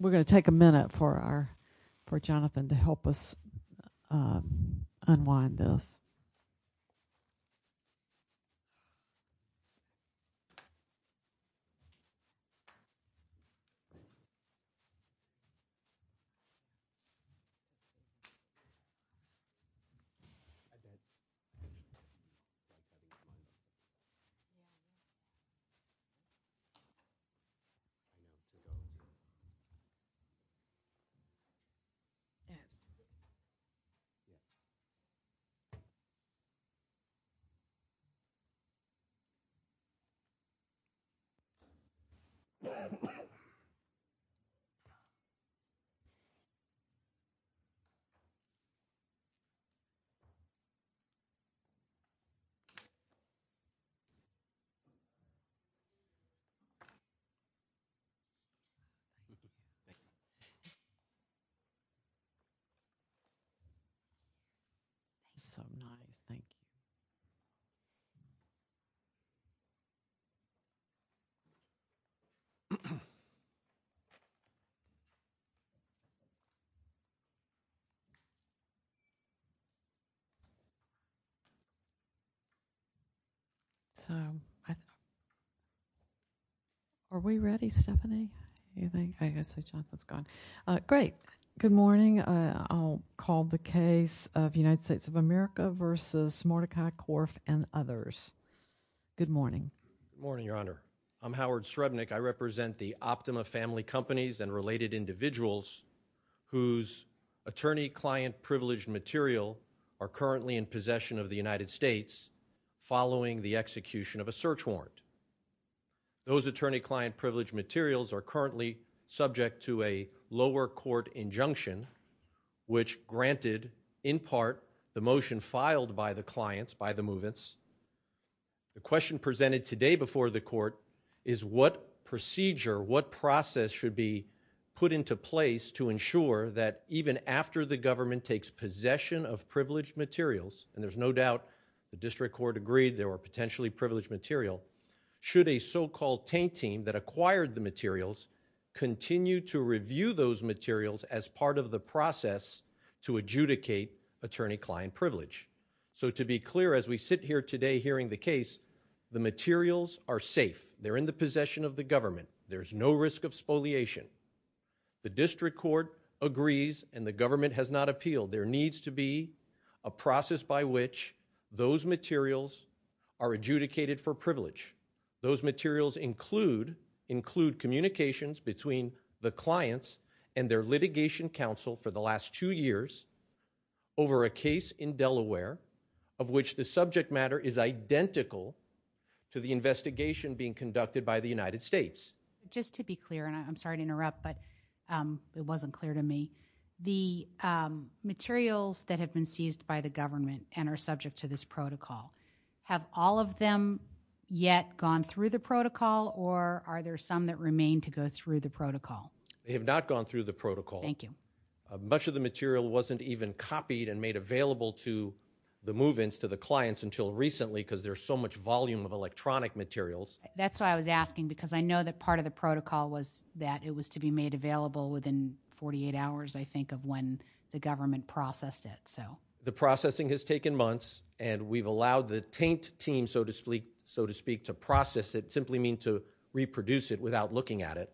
We're going to take a minute for Jonathan to help us unwind this. So, are we ready, Stephanie, do you think, I guess Jonathan? Great. Good morning. I'll call the case of United States of America versus Mordechai Korf and others. Good morning. Howard Srebnik Good morning, Your Honor. I'm Howard Srebnik. I represent the Optima family companies and related individuals whose attorney-client-privileged material are currently in possession of the United States following the execution of a search warrant. Those attorney-client-privileged materials are currently subject to a lower court injunction which granted, in part, the motion filed by the clients, by the movements. The question presented today before the court is what procedure, what process should be put into place to ensure that even after the government takes possession of privileged materials, and there's no doubt the district court agreed they were potentially privileged material, should a so-called tank team that acquired the materials continue to review those materials as part of the process to adjudicate attorney-client privilege. So, to be clear, as we sit here today hearing the case, the materials are safe. They're in the possession of the government. There's no risk of spoliation. The district court agrees and the government has not appealed. There needs to be a process by which those materials are adjudicated for privilege. Those materials include communications between the clients and their litigation counsel for the last two years over a case in Delaware of which the subject matter is identical to the investigation being conducted by the United States. Just to be clear, and I'm sorry to interrupt, but it wasn't clear to me, the materials that have been seized by the government and are subject to this protocol, have all of them yet gone through the protocol or are there some that remain to go through the protocol? They have not gone through the protocol. Thank you. Much of the material wasn't even copied and made available to the movements, to the clients until recently because there's so much volume of electronic materials. That's why I was asking because I know that part of the protocol was that it was to be made available within 48 hours, I think, of when the government processed it. The processing has taken months and we've allowed the taint team, so to speak, to process it, simply meaning to reproduce it without looking at it.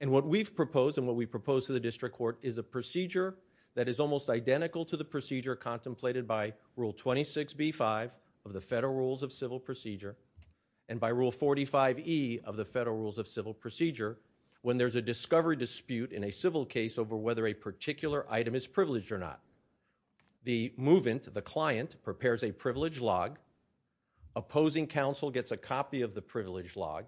And what we've proposed and what we've proposed to the district court is a procedure that is almost identical to the procedure contemplated by Rule 26B5 of the Federal Rules of Civil Procedure and by Rule 45E of the Federal Rules of Civil Procedure when there's a discovery dispute in a civil case over whether a particular item is privileged or not. The movement, the client, prepares a privilege log. Opposing counsel gets a copy of the privilege log.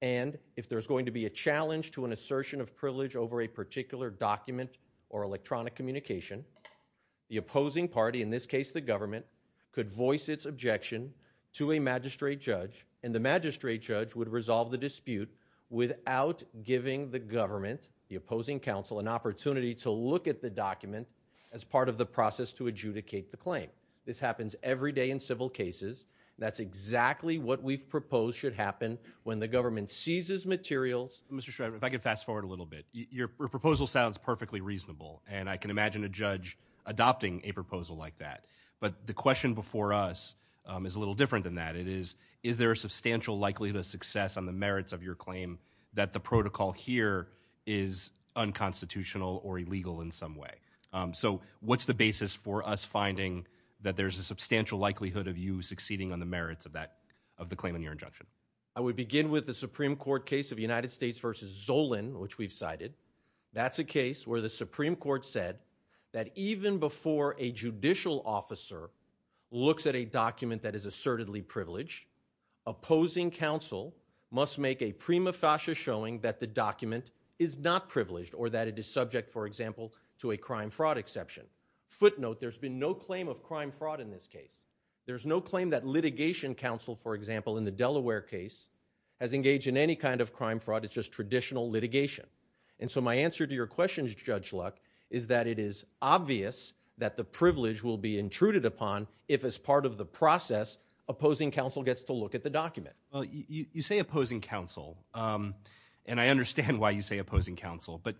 And if there's going to be a challenge to an assertion of privilege over a particular document or electronic communication, the opposing party, in this case the government, could voice its objection to a magistrate judge. And the magistrate judge would resolve the dispute without giving the government, the opposing counsel, an opportunity to look at the document as part of the process to adjudicate the claim. This happens every day in civil cases. That's exactly what we've proposed should happen when the government seizes materials. Mr. Shriver, if I could fast forward a little bit. Your proposal sounds perfectly reasonable, and I can imagine a judge adopting a proposal like that. But the question before us is a little different than that. It is, is there a substantial likelihood of success on the merits of your claim that the protocol here is unconstitutional or illegal in some way? So what's the basis for us finding that there's a substantial likelihood of you succeeding on the merits of that, of the claim in your injunction? I would begin with the Supreme Court case of United States v. Zolin, which we've cited. That's a case where the Supreme Court said that even before a judicial officer looks at a document that is assertedly privileged, opposing counsel must make a prima facie showing that the document is not privileged or that it is subject, for example, to a crime-fraud exception. Footnote, there's been no claim of crime-fraud in this case. There's no claim that litigation counsel, for example, in the Delaware case has engaged in any kind of crime-fraud. It's just traditional litigation. And so my answer to your question, Judge Luck, is that it is obvious that the privilege will be intruded upon if, as part of the process, opposing counsel gets to look at the document. Well, you say opposing counsel, and I understand why you say opposing counsel. But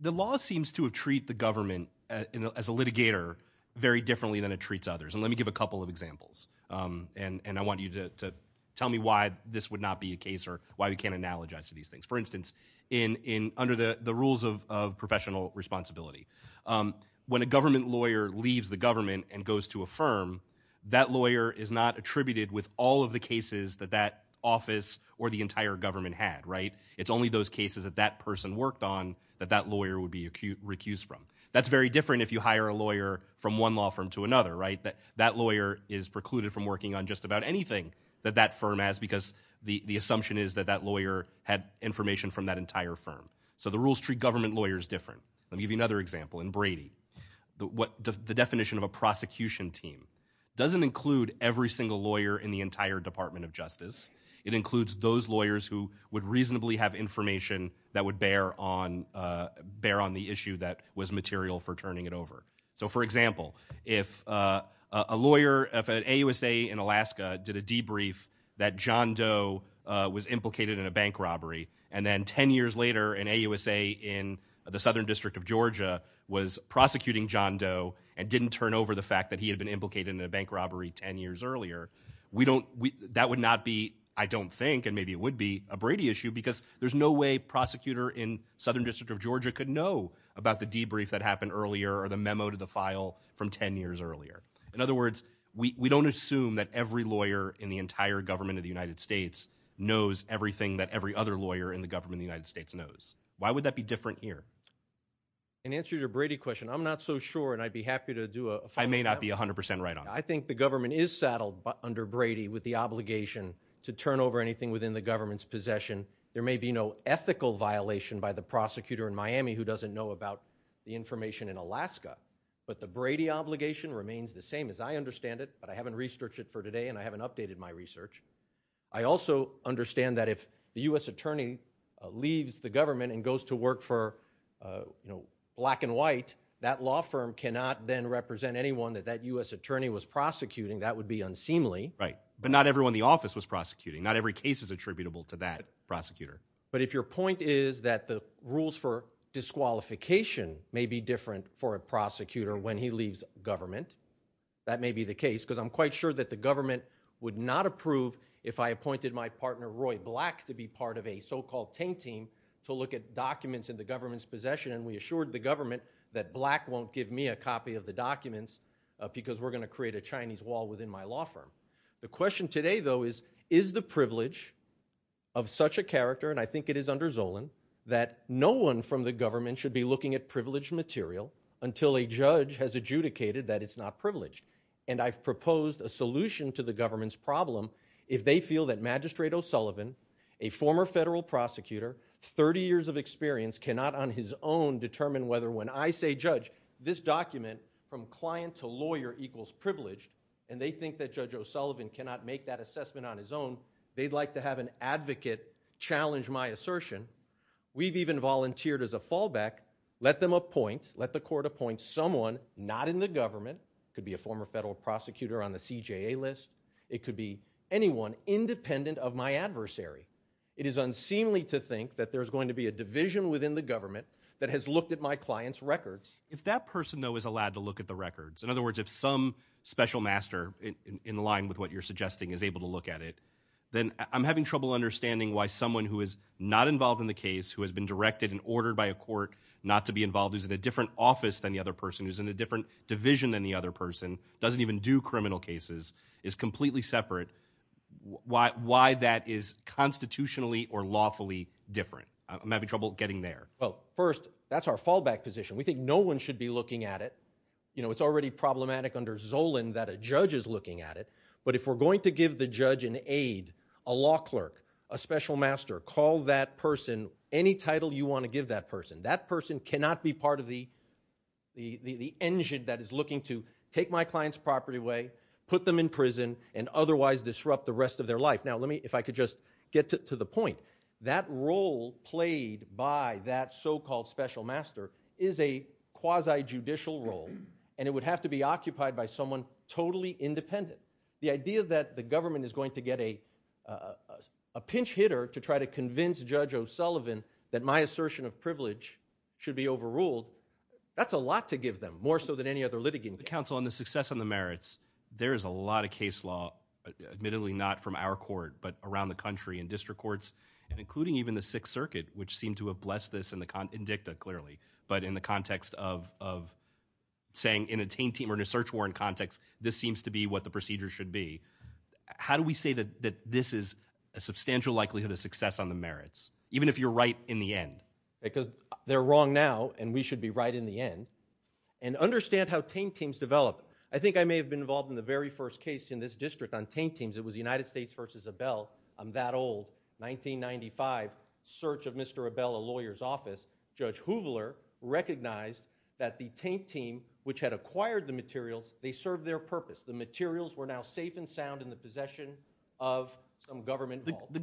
the law seems to treat the government as a litigator very differently than it treats others. And let me give a couple of examples. And I want you to tell me why this would not be a case or why we can't analogize to these things. For instance, under the rules of professional responsibility, when a government lawyer leaves the government and goes to a firm, that lawyer is not attributed with all of the cases that that office or the entire government had, right? It's only those cases that that person worked on that that lawyer would be recused from. That's very different if you hire a lawyer from one law firm to another, right? That lawyer is precluded from working on just about anything that that firm has because the assumption is that that lawyer had information from that entire firm. So the rules treat government lawyers different. Let me give you another example. In Brady, the definition of a prosecution team doesn't include every single lawyer in the entire Department of Justice. It includes those lawyers who would reasonably have information that would bear on the issue that was material for turning it over. So, for example, if a lawyer, if an AUSA in Alaska did a debrief that John Doe was implicated in a bank robbery and then 10 years later an AUSA in the Southern District of Georgia was prosecuting John Doe and didn't turn over the fact that he had been implicated in a bank robbery 10 years earlier, that would not be, I don't think, and maybe it would be a Brady issue because there's no way prosecutor in Southern District of Georgia could know about the debrief that happened earlier or the memo to the file from 10 years earlier. In other words, we don't assume that every lawyer in the entire government of the United States knows everything that every other lawyer in the government of the United States knows. Why would that be different here? In answer to your Brady question, I'm not so sure and I'd be happy to do a follow-up. I think the government is saddled under Brady with the obligation to turn over anything within the government's possession. There may be no ethical violation by the prosecutor in Miami who doesn't know about the information in Alaska, but the Brady obligation remains the same as I understand it, but I haven't researched it for today and I haven't updated my research. I also understand that if the U.S. attorney leaves the government and goes to work for black and white, that law firm cannot then represent anyone that that U.S. attorney was prosecuting. That would be unseemly. Right, but not everyone in the office was prosecuting. Not every case is attributable to that prosecutor. But if your point is that the rules for disqualification may be different for a prosecutor when he leaves government, that may be the case because I'm quite sure that the government would not approve if I appointed my partner Roy Black to be part of a so-called tank team to look at documents in the government's possession and we assured the government that Black won't give me a copy of the documents because we're going to create a Chinese wall within my law firm. The question today though is, is the privilege of such a character, and I think it is under Zolan, that no one from the government should be looking at privileged material until a judge has adjudicated that it's not privileged? And I've proposed a solution to the government's problem if they feel that Magistrate O'Sullivan, a former federal prosecutor, 30 years of experience, cannot on his own determine whether when I say judge, this document from client to lawyer equals privileged, and they think that Judge O'Sullivan cannot make that assessment on his own, they'd like to have an advocate challenge my assertion. We've even volunteered as a fallback, let them appoint, let the court appoint someone not in the government, could be a former federal prosecutor on the CJA list, it could be anyone independent of my adversary. It is unseemly to think that there's going to be a division within the government that has looked at my client's records. If that person though is allowed to look at the records, in other words, if some special master in line with what you're suggesting is able to look at it, then I'm having trouble understanding why someone who is not involved in the case, who has been directed and ordered by a court not to be involved, who's in a different office than the other person, who's in a different division than the other person, doesn't even do criminal cases, is completely separate. Why that is constitutionally or lawfully different? I'm having trouble getting there. Well, first, that's our fallback position. We think no one should be looking at it. It's already problematic under Zolan that a judge is looking at it. But if we're going to give the judge an aide, a law clerk, a special master, call that person, any title you want to give that person, that person cannot be part of the engine that is looking to take my client's property away, put them in prison, and otherwise disrupt the rest of their life. Now, let me, if I could just get to the point, that role played by that so-called special master is a quasi-judicial role, and it would have to be occupied by someone totally independent. The idea that the government is going to get a pinch hitter to try to convince Judge O'Sullivan that my assertion of privilege should be overruled, that's a lot to give them, more so than any other litigant. On the success and the merits, there is a lot of case law, admittedly not from our court, but around the country in district courts, including even the Sixth Circuit, which seemed to have blessed this in DICTA, clearly, but in the context of saying in a Taint Team or a Search Warrant context, this seems to be what the procedure should be. How do we say that this is a substantial likelihood of success on the merits, even if you're right in the end? Because they're wrong now, and we should be right in the end. And understand how Taint Teams developed. I think I may have been involved in the very first case in this district on Taint Teams. It was the United States versus Abel, that old, 1995 search of Mr. Abel, a lawyer's office. Judge Hoover recognized that the Taint Team, which had acquired the materials, they served their purpose. The materials were now safe and sound in the possession of some government involved. The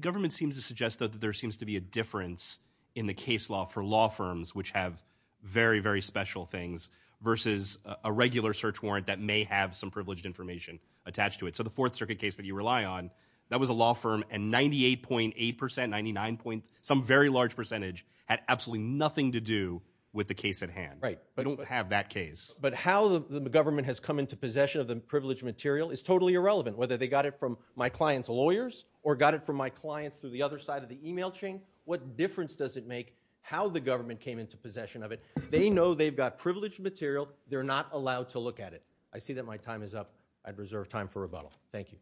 government seems to suggest that there seems to be a difference in the case law for law firms, which have very, very special things, versus a regular search warrant that may have some privileged information attached to it. So the Fourth Circuit case that you rely on, that was a law firm, and 98.8 percent, 99 point, some very large percentage, had absolutely nothing to do with the case at hand. Right. They don't have that case. But how the government has come into possession of the privileged material is totally irrelevant, whether they got it from my client's lawyers or got it from my clients through the other side of the email chain. What difference does it make how the government came into possession of it? They know they've got privileged material. They're not allowed to look at it. I see that my time is up. I'd reserve time for rebuttal. Thank you.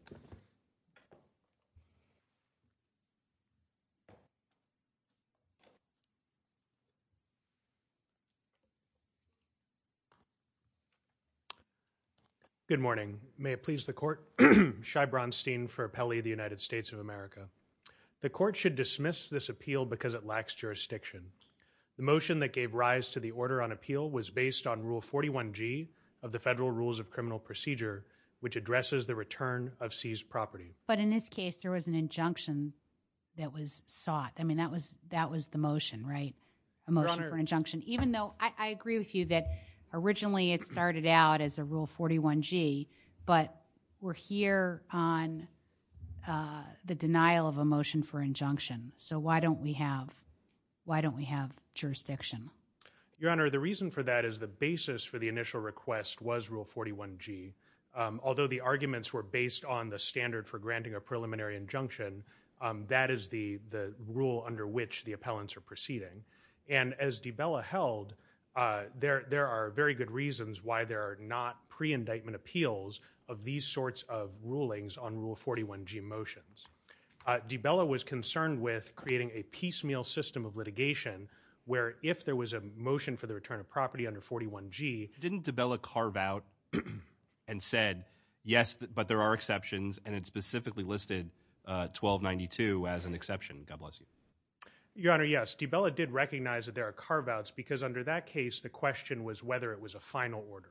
Good morning. May it please the court. Shai Bronstein for Appellee of the United States of America. The court should dismiss this appeal because it lacks jurisdiction. The motion that gave rise to the order on appeal was based on Rule 41G of the Federal Rules of Criminal Procedure, which addresses the return of seized property. But in this case, there was an injunction that was sought. I mean, that was the motion, right? Your Honor. I agree with you that originally it started out as a Rule 41G, but we're here on the denial of a motion for injunction. So why don't we have jurisdiction? Your Honor, the reason for that is the basis for the initial request was Rule 41G. Although the arguments were based on the standard for granting a preliminary injunction, that is the rule under which the appellants are proceeding. And as DeBella held, there are very good reasons why there are not pre-indictment appeals of these sorts of rulings on Rule 41G motions. DeBella was concerned with creating a piecemeal system of litigation where if there was a motion for the return of property under 41G— Didn't DeBella carve out and said, yes, but there are exceptions, and it specifically listed 1292 as an exception? God bless you. Your Honor, yes. DeBella did recognize that there are carve-outs because under that case, the question was whether it was a final order.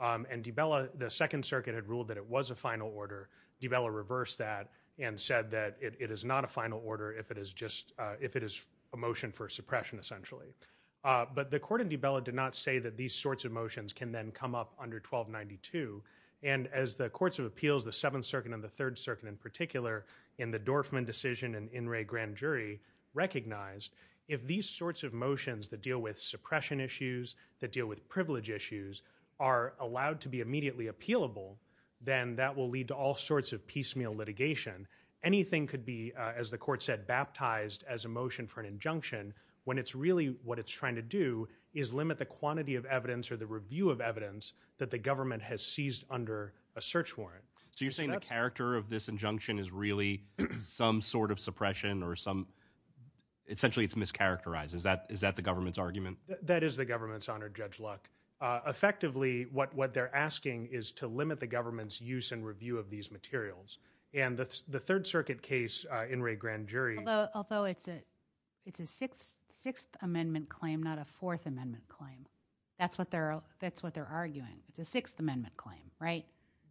And DeBella—the Second Circuit had ruled that it was a final order. DeBella reversed that and said that it is not a final order if it is just—if it is a motion for suppression, essentially. But the court in DeBella did not say that these sorts of motions can then come up under 1292. And as the courts of appeals, the Seventh Circuit and the Third Circuit in particular, in the Dorfman decision and in Wray Grand Jury, recognized, if these sorts of motions that deal with suppression issues, that deal with privilege issues, are allowed to be immediately appealable, then that will lead to all sorts of piecemeal litigation. Anything could be, as the court said, baptized as a motion for an injunction when it's really—what it's trying to do is limit the quantity of evidence or the review of evidence that the government has seized under a search warrant. So you're saying the character of this injunction is really some sort of suppression or some—essentially it's mischaracterized. Is that the government's argument? That is the government's honor, Judge Luck. Effectively, what they're asking is to limit the government's use and review of these materials. And the Third Circuit case in Wray Grand Jury— Although it's a Sixth Amendment claim, not a Fourth Amendment claim. That's what they're arguing. It's a Sixth Amendment claim, right?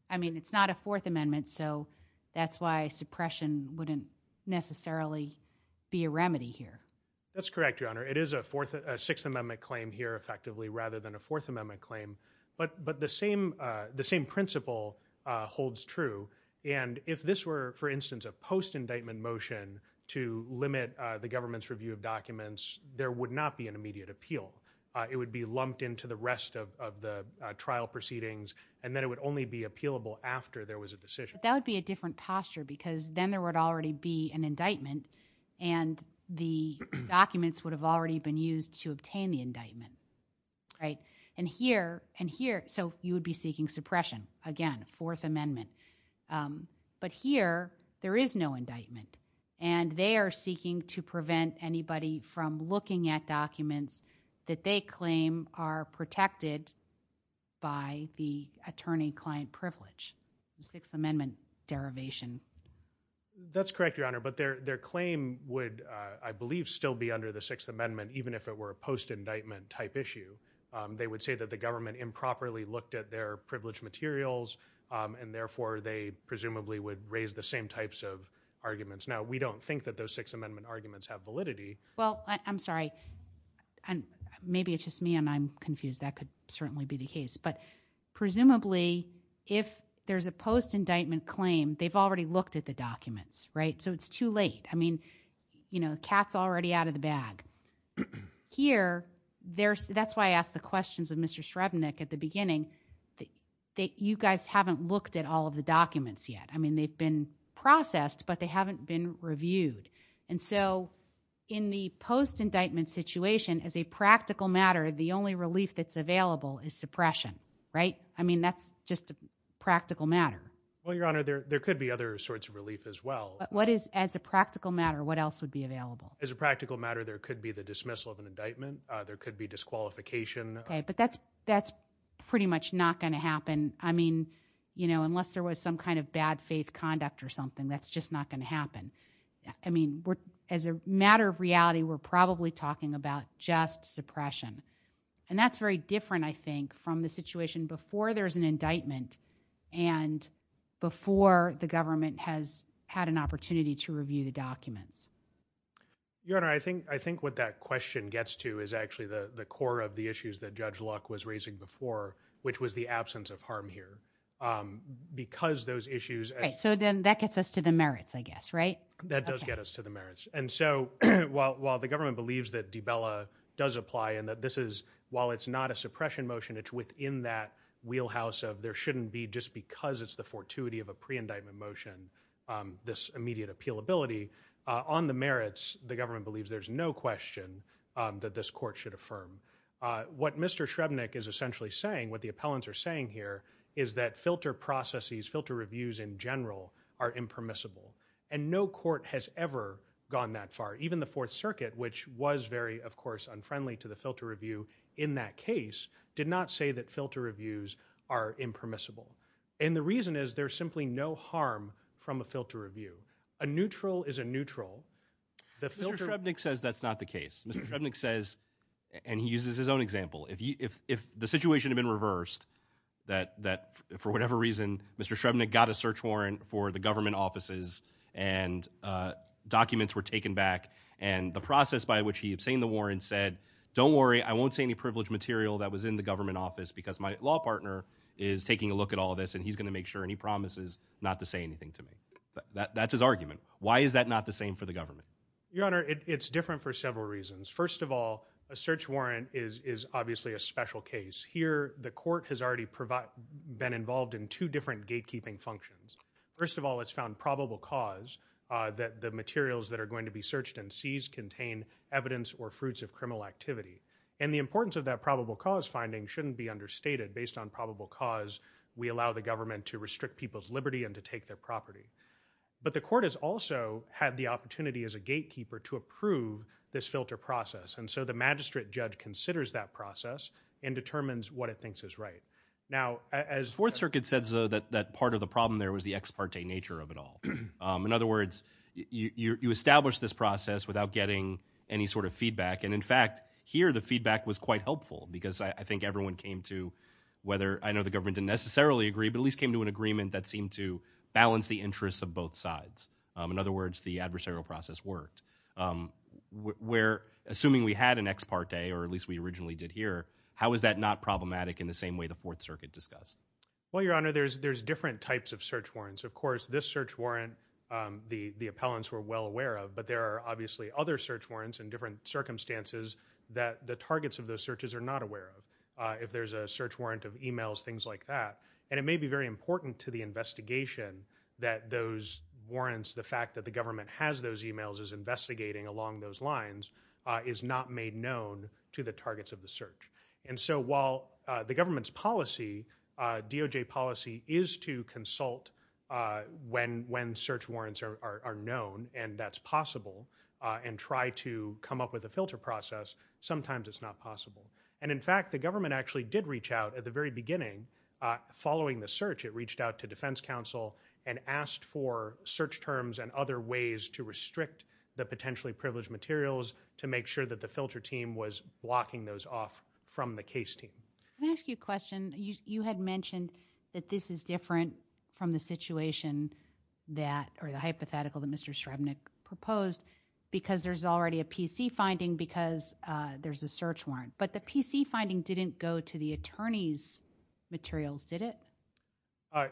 I mean, it's not a Fourth Amendment, so that's why suppression wouldn't necessarily be a remedy here. That's correct, Your Honor. It is a Sixth Amendment claim here, effectively, rather than a Fourth Amendment claim. But the same principle holds true. And if this were, for instance, a post-indictment motion to limit the government's review of documents, there would not be an immediate appeal. It would be lumped into the rest of the trial proceedings, and then it would only be appealable after there was a decision. But that would be a different posture because then there would already be an indictment, and the documents would have already been used to obtain the indictment, right? So you would be seeking suppression. Again, Fourth Amendment. But here, there is no indictment, and they are seeking to prevent anybody from looking at documents that they claim are protected by the attorney-client privilege, Sixth Amendment derivation. That's correct, Your Honor, but their claim would, I believe, still be under the Sixth Amendment, even if it were a post-indictment-type issue. They would say that the government improperly looked at their privileged materials, and therefore they presumably would raise the same types of arguments. Now, we don't think that those Sixth Amendment arguments have validity. Well, I'm sorry. Maybe it's just me, and I'm confused. That could certainly be the case. But presumably, if there's a post-indictment claim, they've already looked at the documents, right? So it's too late. I mean, the cat's already out of the bag. Here, that's why I asked the questions of Mr. Shrebnik at the beginning. You guys haven't looked at all of the documents yet. I mean, they've been processed, but they haven't been reviewed. And so in the post-indictment situation, as a practical matter, the only relief that's available is suppression, right? I mean, that's just a practical matter. Well, Your Honor, there could be other sorts of relief as well. What is, as a practical matter, what else would be available? As a practical matter, there could be the dismissal of an indictment. There could be disqualification. Okay, but that's pretty much not going to happen. I mean, you know, unless there was some kind of bad faith conduct or something, that's just not going to happen. I mean, as a matter of reality, we're probably talking about just suppression. And that's very different, I think, from the situation before there's an indictment and before the government has had an opportunity to review the documents. Your Honor, I think what that question gets to is actually the core of the issues that Judge Luck was raising before, which was the absence of harm here. Because those issues— Right, so then that gets us to the merits, I guess, right? That does get us to the merits. And so while the government believes that DiBella does apply and that this is, while it's not a suppression motion, it's within that wheelhouse of there shouldn't be, just because it's the fortuity of a pre-indictment motion, this immediate appealability, on the merits, the government believes there's no question that this court should affirm. What Mr. Shrebnik is essentially saying, what the appellants are saying here, is that filter processes, filter reviews in general, are impermissible. And no court has ever gone that far. Even the Fourth Circuit, which was very, of course, unfriendly to the filter review in that case, did not say that filter reviews are impermissible. And the reason is there's simply no harm from a filter review. A neutral is a neutral. Mr. Shrebnik says that's not the case. Mr. Shrebnik says, and he uses his own example, if the situation had been reversed, that for whatever reason Mr. Shrebnik got a search warrant for the government offices and documents were taken back, and the process by which he obtained the warrant said, don't worry, I won't say any privileged material that was in the government office because my law partner is taking a look at all this and he's going to make sure, and he promises not to say anything to me. That's his argument. Why is that not the same for the government? Your Honor, it's different for several reasons. First of all, a search warrant is obviously a special case. Here, the court has already been involved in two different gatekeeping functions. First of all, it's found probable cause that the materials that are going to be searched and seized contain evidence or fruits of criminal activity. And the importance of that probable cause finding shouldn't be understated. Based on probable cause, we allow the government to restrict people's liberty and to take their property. But the court has also had the opportunity as a gatekeeper to approve this filter process. And so the magistrate judge considers that process and determines what it thinks is right. Now, as Fourth Circuit says, though, that part of the problem there was the ex parte nature of it all. In other words, you establish this process without getting any sort of feedback. And in fact, here the feedback was quite helpful because I think everyone came to whether I know the government didn't necessarily agree, but at least came to an agreement that seemed to balance the interests of both sides. In other words, the adversarial process worked. Assuming we had an ex parte, or at least we originally did here, how is that not problematic in the same way the Fourth Circuit discussed? Well, Your Honor, there's different types of search warrants. Of course, this search warrant the appellants were well aware of, but there are obviously other search warrants in different circumstances that the targets of those searches are not aware of. If there's a search warrant of e-mails, things like that. And it may be very important to the investigation that those warrants, the fact that the government has those e-mails as investigating along those lines, is not made known to the targets of the search. And so while the government's policy, DOJ policy, is to consult when search warrants are known and that's possible and try to come up with a filter process, sometimes it's not possible. And in fact, the government actually did reach out at the very beginning following the search. It reached out to defense counsel and asked for search terms and other ways to restrict the potentially privileged materials to make sure that the filter team was blocking those off from the case team. Let me ask you a question. You had mentioned that this is different from the situation that, or the hypothetical that Mr. Srebnik proposed, because there's already a PC finding because there's a search warrant. But the PC finding didn't go to the attorney's materials, did it?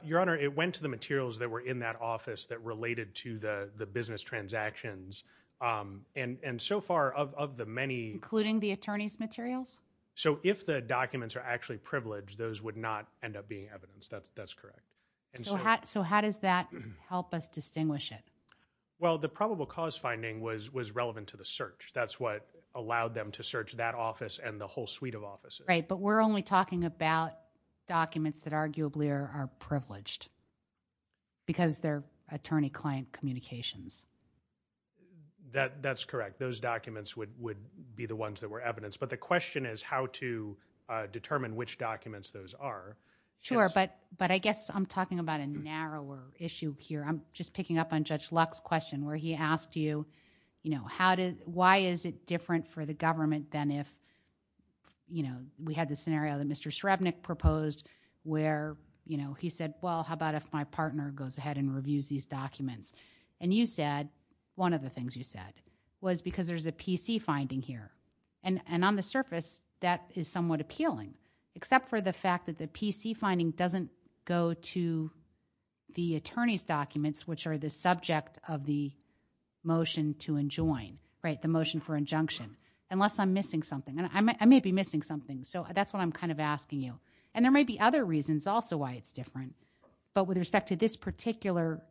Your Honor, it went to the materials that were in that office that related to the business transactions. And so far, of the many- Including the attorney's materials? So if the documents are actually privileged, those would not end up being evidence. That's correct. So how does that help us distinguish it? Well, the probable cause finding was relevant to the search. That's what allowed them to search that office and the whole suite of offices. Right, but we're only talking about documents that arguably are privileged because they're attorney-client communications. That's correct. Those documents would be the ones that were evidence. But the question is how to determine which documents those are. Sure, but I guess I'm talking about a narrower issue here. I'm just picking up on Judge Luck's question where he asked you, why is it different for the government than if we had the scenario that Mr. Srebnik proposed where he said, well, how about if my partner goes ahead and reviews these documents? And you said, one of the things you said, was because there's a PC finding here. And on the surface, that is somewhat appealing, except for the fact that the PC finding doesn't go to the attorney's documents, which are the subject of the motion to enjoin, the motion for injunction, unless I'm missing something. I may be missing something, so that's what I'm kind of asking you. And there may be other reasons also why it's different. But with respect to this particular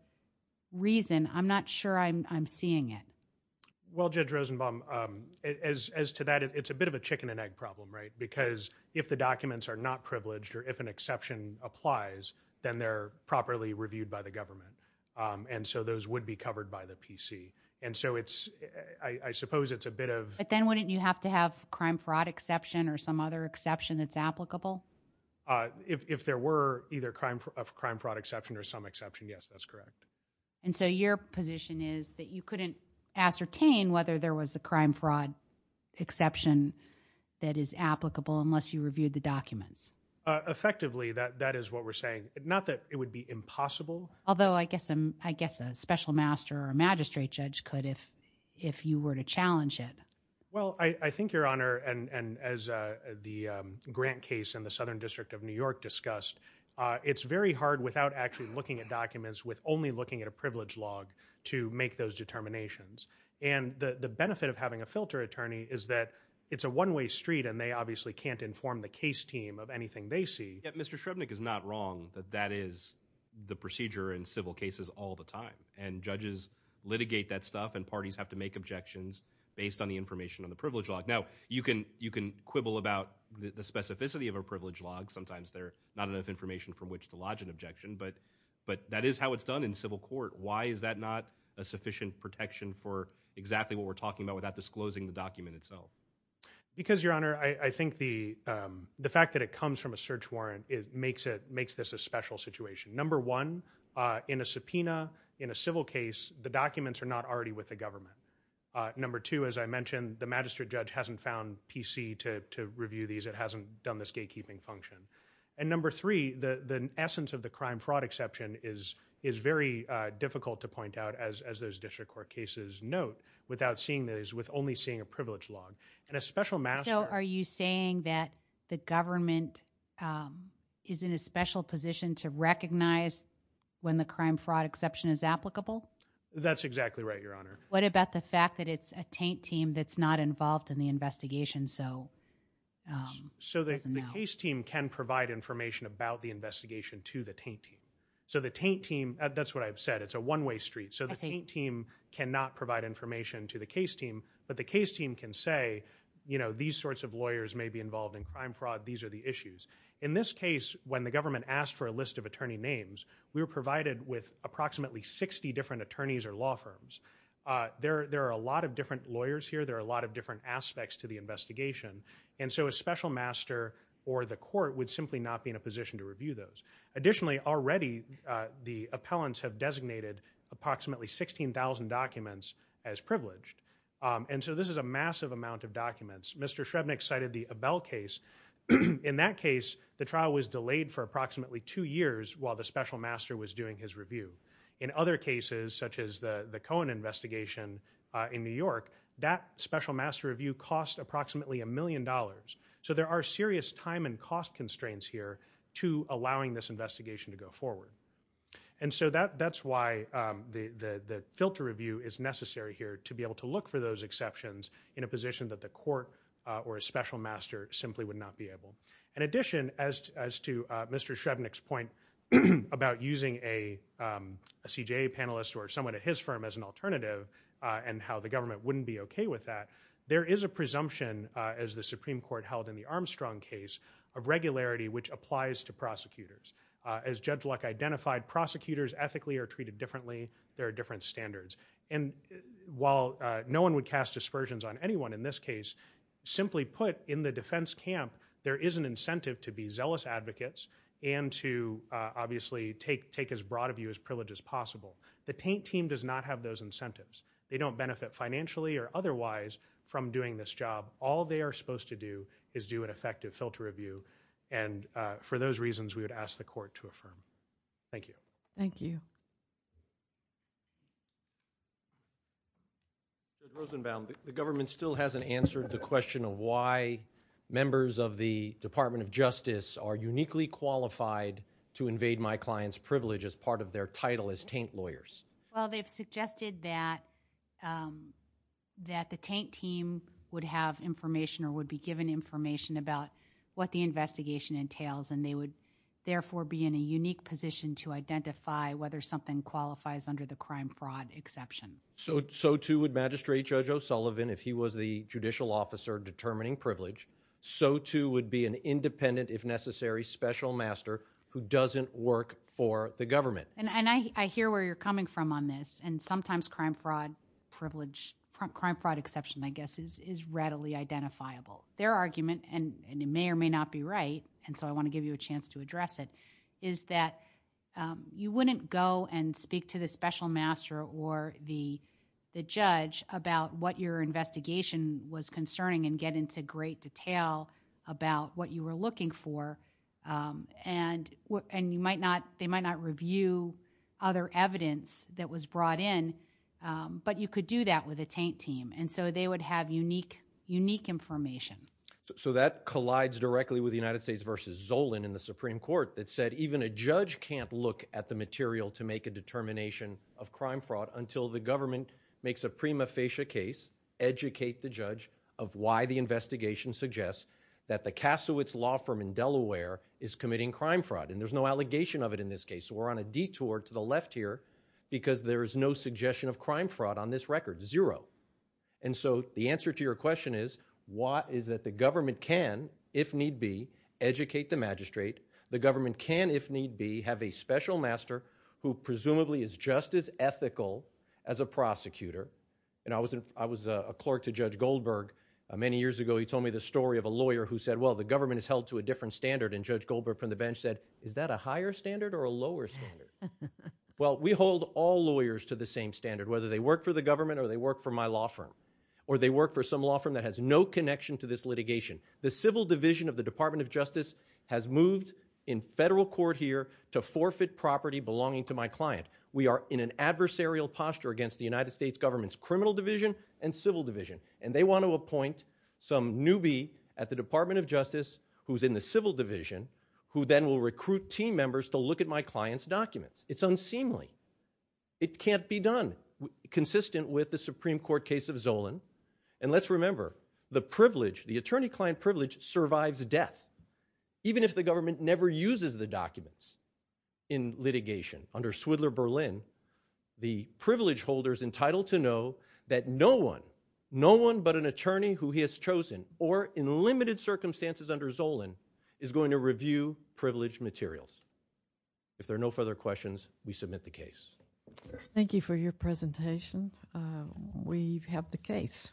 reason, I'm not sure I'm seeing it. Well, Judge Rosenbaum, as to that, it's a bit of a chicken and egg problem, right? Because if the documents are not privileged or if an exception applies, then they're properly reviewed by the government. And so those would be covered by the PC. And so I suppose it's a bit of – But then wouldn't you have to have a crime fraud exception or some other exception that's applicable? If there were either a crime fraud exception or some exception, yes, that's correct. And so your position is that you couldn't ascertain whether there was a crime fraud exception that is applicable unless you reviewed the documents? Effectively, that is what we're saying. Not that it would be impossible. Although I guess a special master or a magistrate judge could if you were to challenge it. Well, I think, Your Honor, and as the Grant case in the Southern District of New York discussed, it's very hard without actually looking at documents with only looking at a privilege log to make those determinations. And the benefit of having a filter attorney is that it's a one-way street and they obviously can't inform the case team of anything they see. Yet Mr. Shrebnik is not wrong that that is the procedure in civil cases all the time. And judges litigate that stuff and parties have to make objections based on the information on the privilege log. Now, you can quibble about the specificity of a privilege log. Sometimes there's not enough information from which to lodge an objection. But that is how it's done in civil court. Why is that not a sufficient protection for exactly what we're talking about without disclosing the document itself? Because, Your Honor, I think the fact that it comes from a search warrant makes this a special situation. Number one, in a subpoena in a civil case, the documents are not already with the government. Number two, as I mentioned, the magistrate judge hasn't found PC to review these. It hasn't done this gatekeeping function. And number three, the essence of the crime-fraud exception is very difficult to point out, as those district court cases note, without seeing those, with only seeing a privilege log. So are you saying that the government is in a special position to recognize when the crime-fraud exception is applicable? That's exactly right, Your Honor. What about the fact that it's a taint team that's not involved in the investigation, so it doesn't know? So the case team can provide information about the investigation to the taint team. So the taint team—that's what I've said. It's a one-way street. So the taint team cannot provide information to the case team. But the case team can say, you know, these sorts of lawyers may be involved in crime-fraud. These are the issues. In this case, when the government asked for a list of attorney names, we were provided with approximately 60 different attorneys or law firms. There are a lot of different lawyers here. There are a lot of different aspects to the investigation. And so a special master or the court would simply not be in a position to review those. Additionally, already the appellants have designated approximately 16,000 documents as privileged. And so this is a massive amount of documents. Mr. Shrevnik cited the Abel case. In that case, the trial was delayed for approximately two years while the special master was doing his review. In other cases, such as the Cohen investigation in New York, that special master review cost approximately a million dollars. So there are serious time and cost constraints here to allowing this investigation to go forward. And so that's why the filter review is necessary here, to be able to look for those exceptions in a position that the court or a special master simply would not be able. In addition, as to Mr. Shrevnik's point about using a CJA panelist or someone at his firm as an alternative and how the government wouldn't be okay with that, there is a presumption, as the Supreme Court held in the Armstrong case, of regularity which applies to prosecutors. As Judge Luck identified, prosecutors ethically are treated differently. There are different standards. And while no one would cast aspersions on anyone in this case, simply put, in the defense camp, there is an incentive to be zealous advocates and to obviously take as broad a view as privilege as possible. The Taint team does not have those incentives. They don't benefit financially or otherwise from doing this job. All they are supposed to do is do an effective filter review. And for those reasons, we would ask the court to affirm. Thank you. Thank you. Judge Rosenbaum, the government still hasn't answered the question of why members of the Department of Justice are uniquely qualified to invade my client's privilege as part of their title as Taint lawyers. Well, they've suggested that the Taint team would have information or would be given information about what the investigation entails, and they would therefore be in a unique position to identify whether something qualifies under the crime fraud exception. So too would Magistrate Judge O'Sullivan, if he was the judicial officer determining privilege. So too would be an independent, if necessary, special master who doesn't work for the government. And I hear where you're coming from on this. And sometimes crime fraud privilege, crime fraud exception, I guess, is readily identifiable. Their argument, and it may or may not be right, and so I want to give you a chance to address it, is that you wouldn't go and speak to the special master or the judge about what your investigation was concerning and get into great detail about what you were looking for. And they might not review other evidence that was brought in, but you could do that with a Taint team. And so they would have unique information. So that collides directly with the United States versus Zolan in the Supreme Court that said even a judge can't look at the material to make a determination of crime fraud until the government makes a prima facie case, educate the judge of why the investigation suggests that the Kasowitz Law Firm in Delaware is committing crime fraud. And there's no allegation of it in this case. So we're on a detour to the left here because there is no suggestion of crime fraud on this record, zero. And so the answer to your question is that the government can, if need be, educate the magistrate. The government can, if need be, have a special master who presumably is just as ethical as a prosecutor. And I was a clerk to Judge Goldberg many years ago. He told me the story of a lawyer who said, well, the government is held to a different standard. And Judge Goldberg from the bench said, is that a higher standard or a lower standard? Well, we hold all lawyers to the same standard, whether they work for the government or they work for my law firm or they work for some law firm that has no connection to this litigation. The civil division of the Department of Justice has moved in federal court here to forfeit property belonging to my client. We are in an adversarial posture against the United States government's criminal division and civil division. And they want to appoint some newbie at the Department of Justice who's in the civil division who then will recruit team members to look at my client's documents. It's unseemly. It can't be done, consistent with the Supreme Court case of Zolan. And let's remember, the privilege, the attorney-client privilege survives death. Even if the government never uses the documents in litigation. Under Swidler Berlin, the privilege holder is entitled to know that no one, no one but an attorney who he has chosen or in limited circumstances under Zolan is going to review privileged materials. If there are no further questions, we submit the case. Thank you for your presentation. We have the case.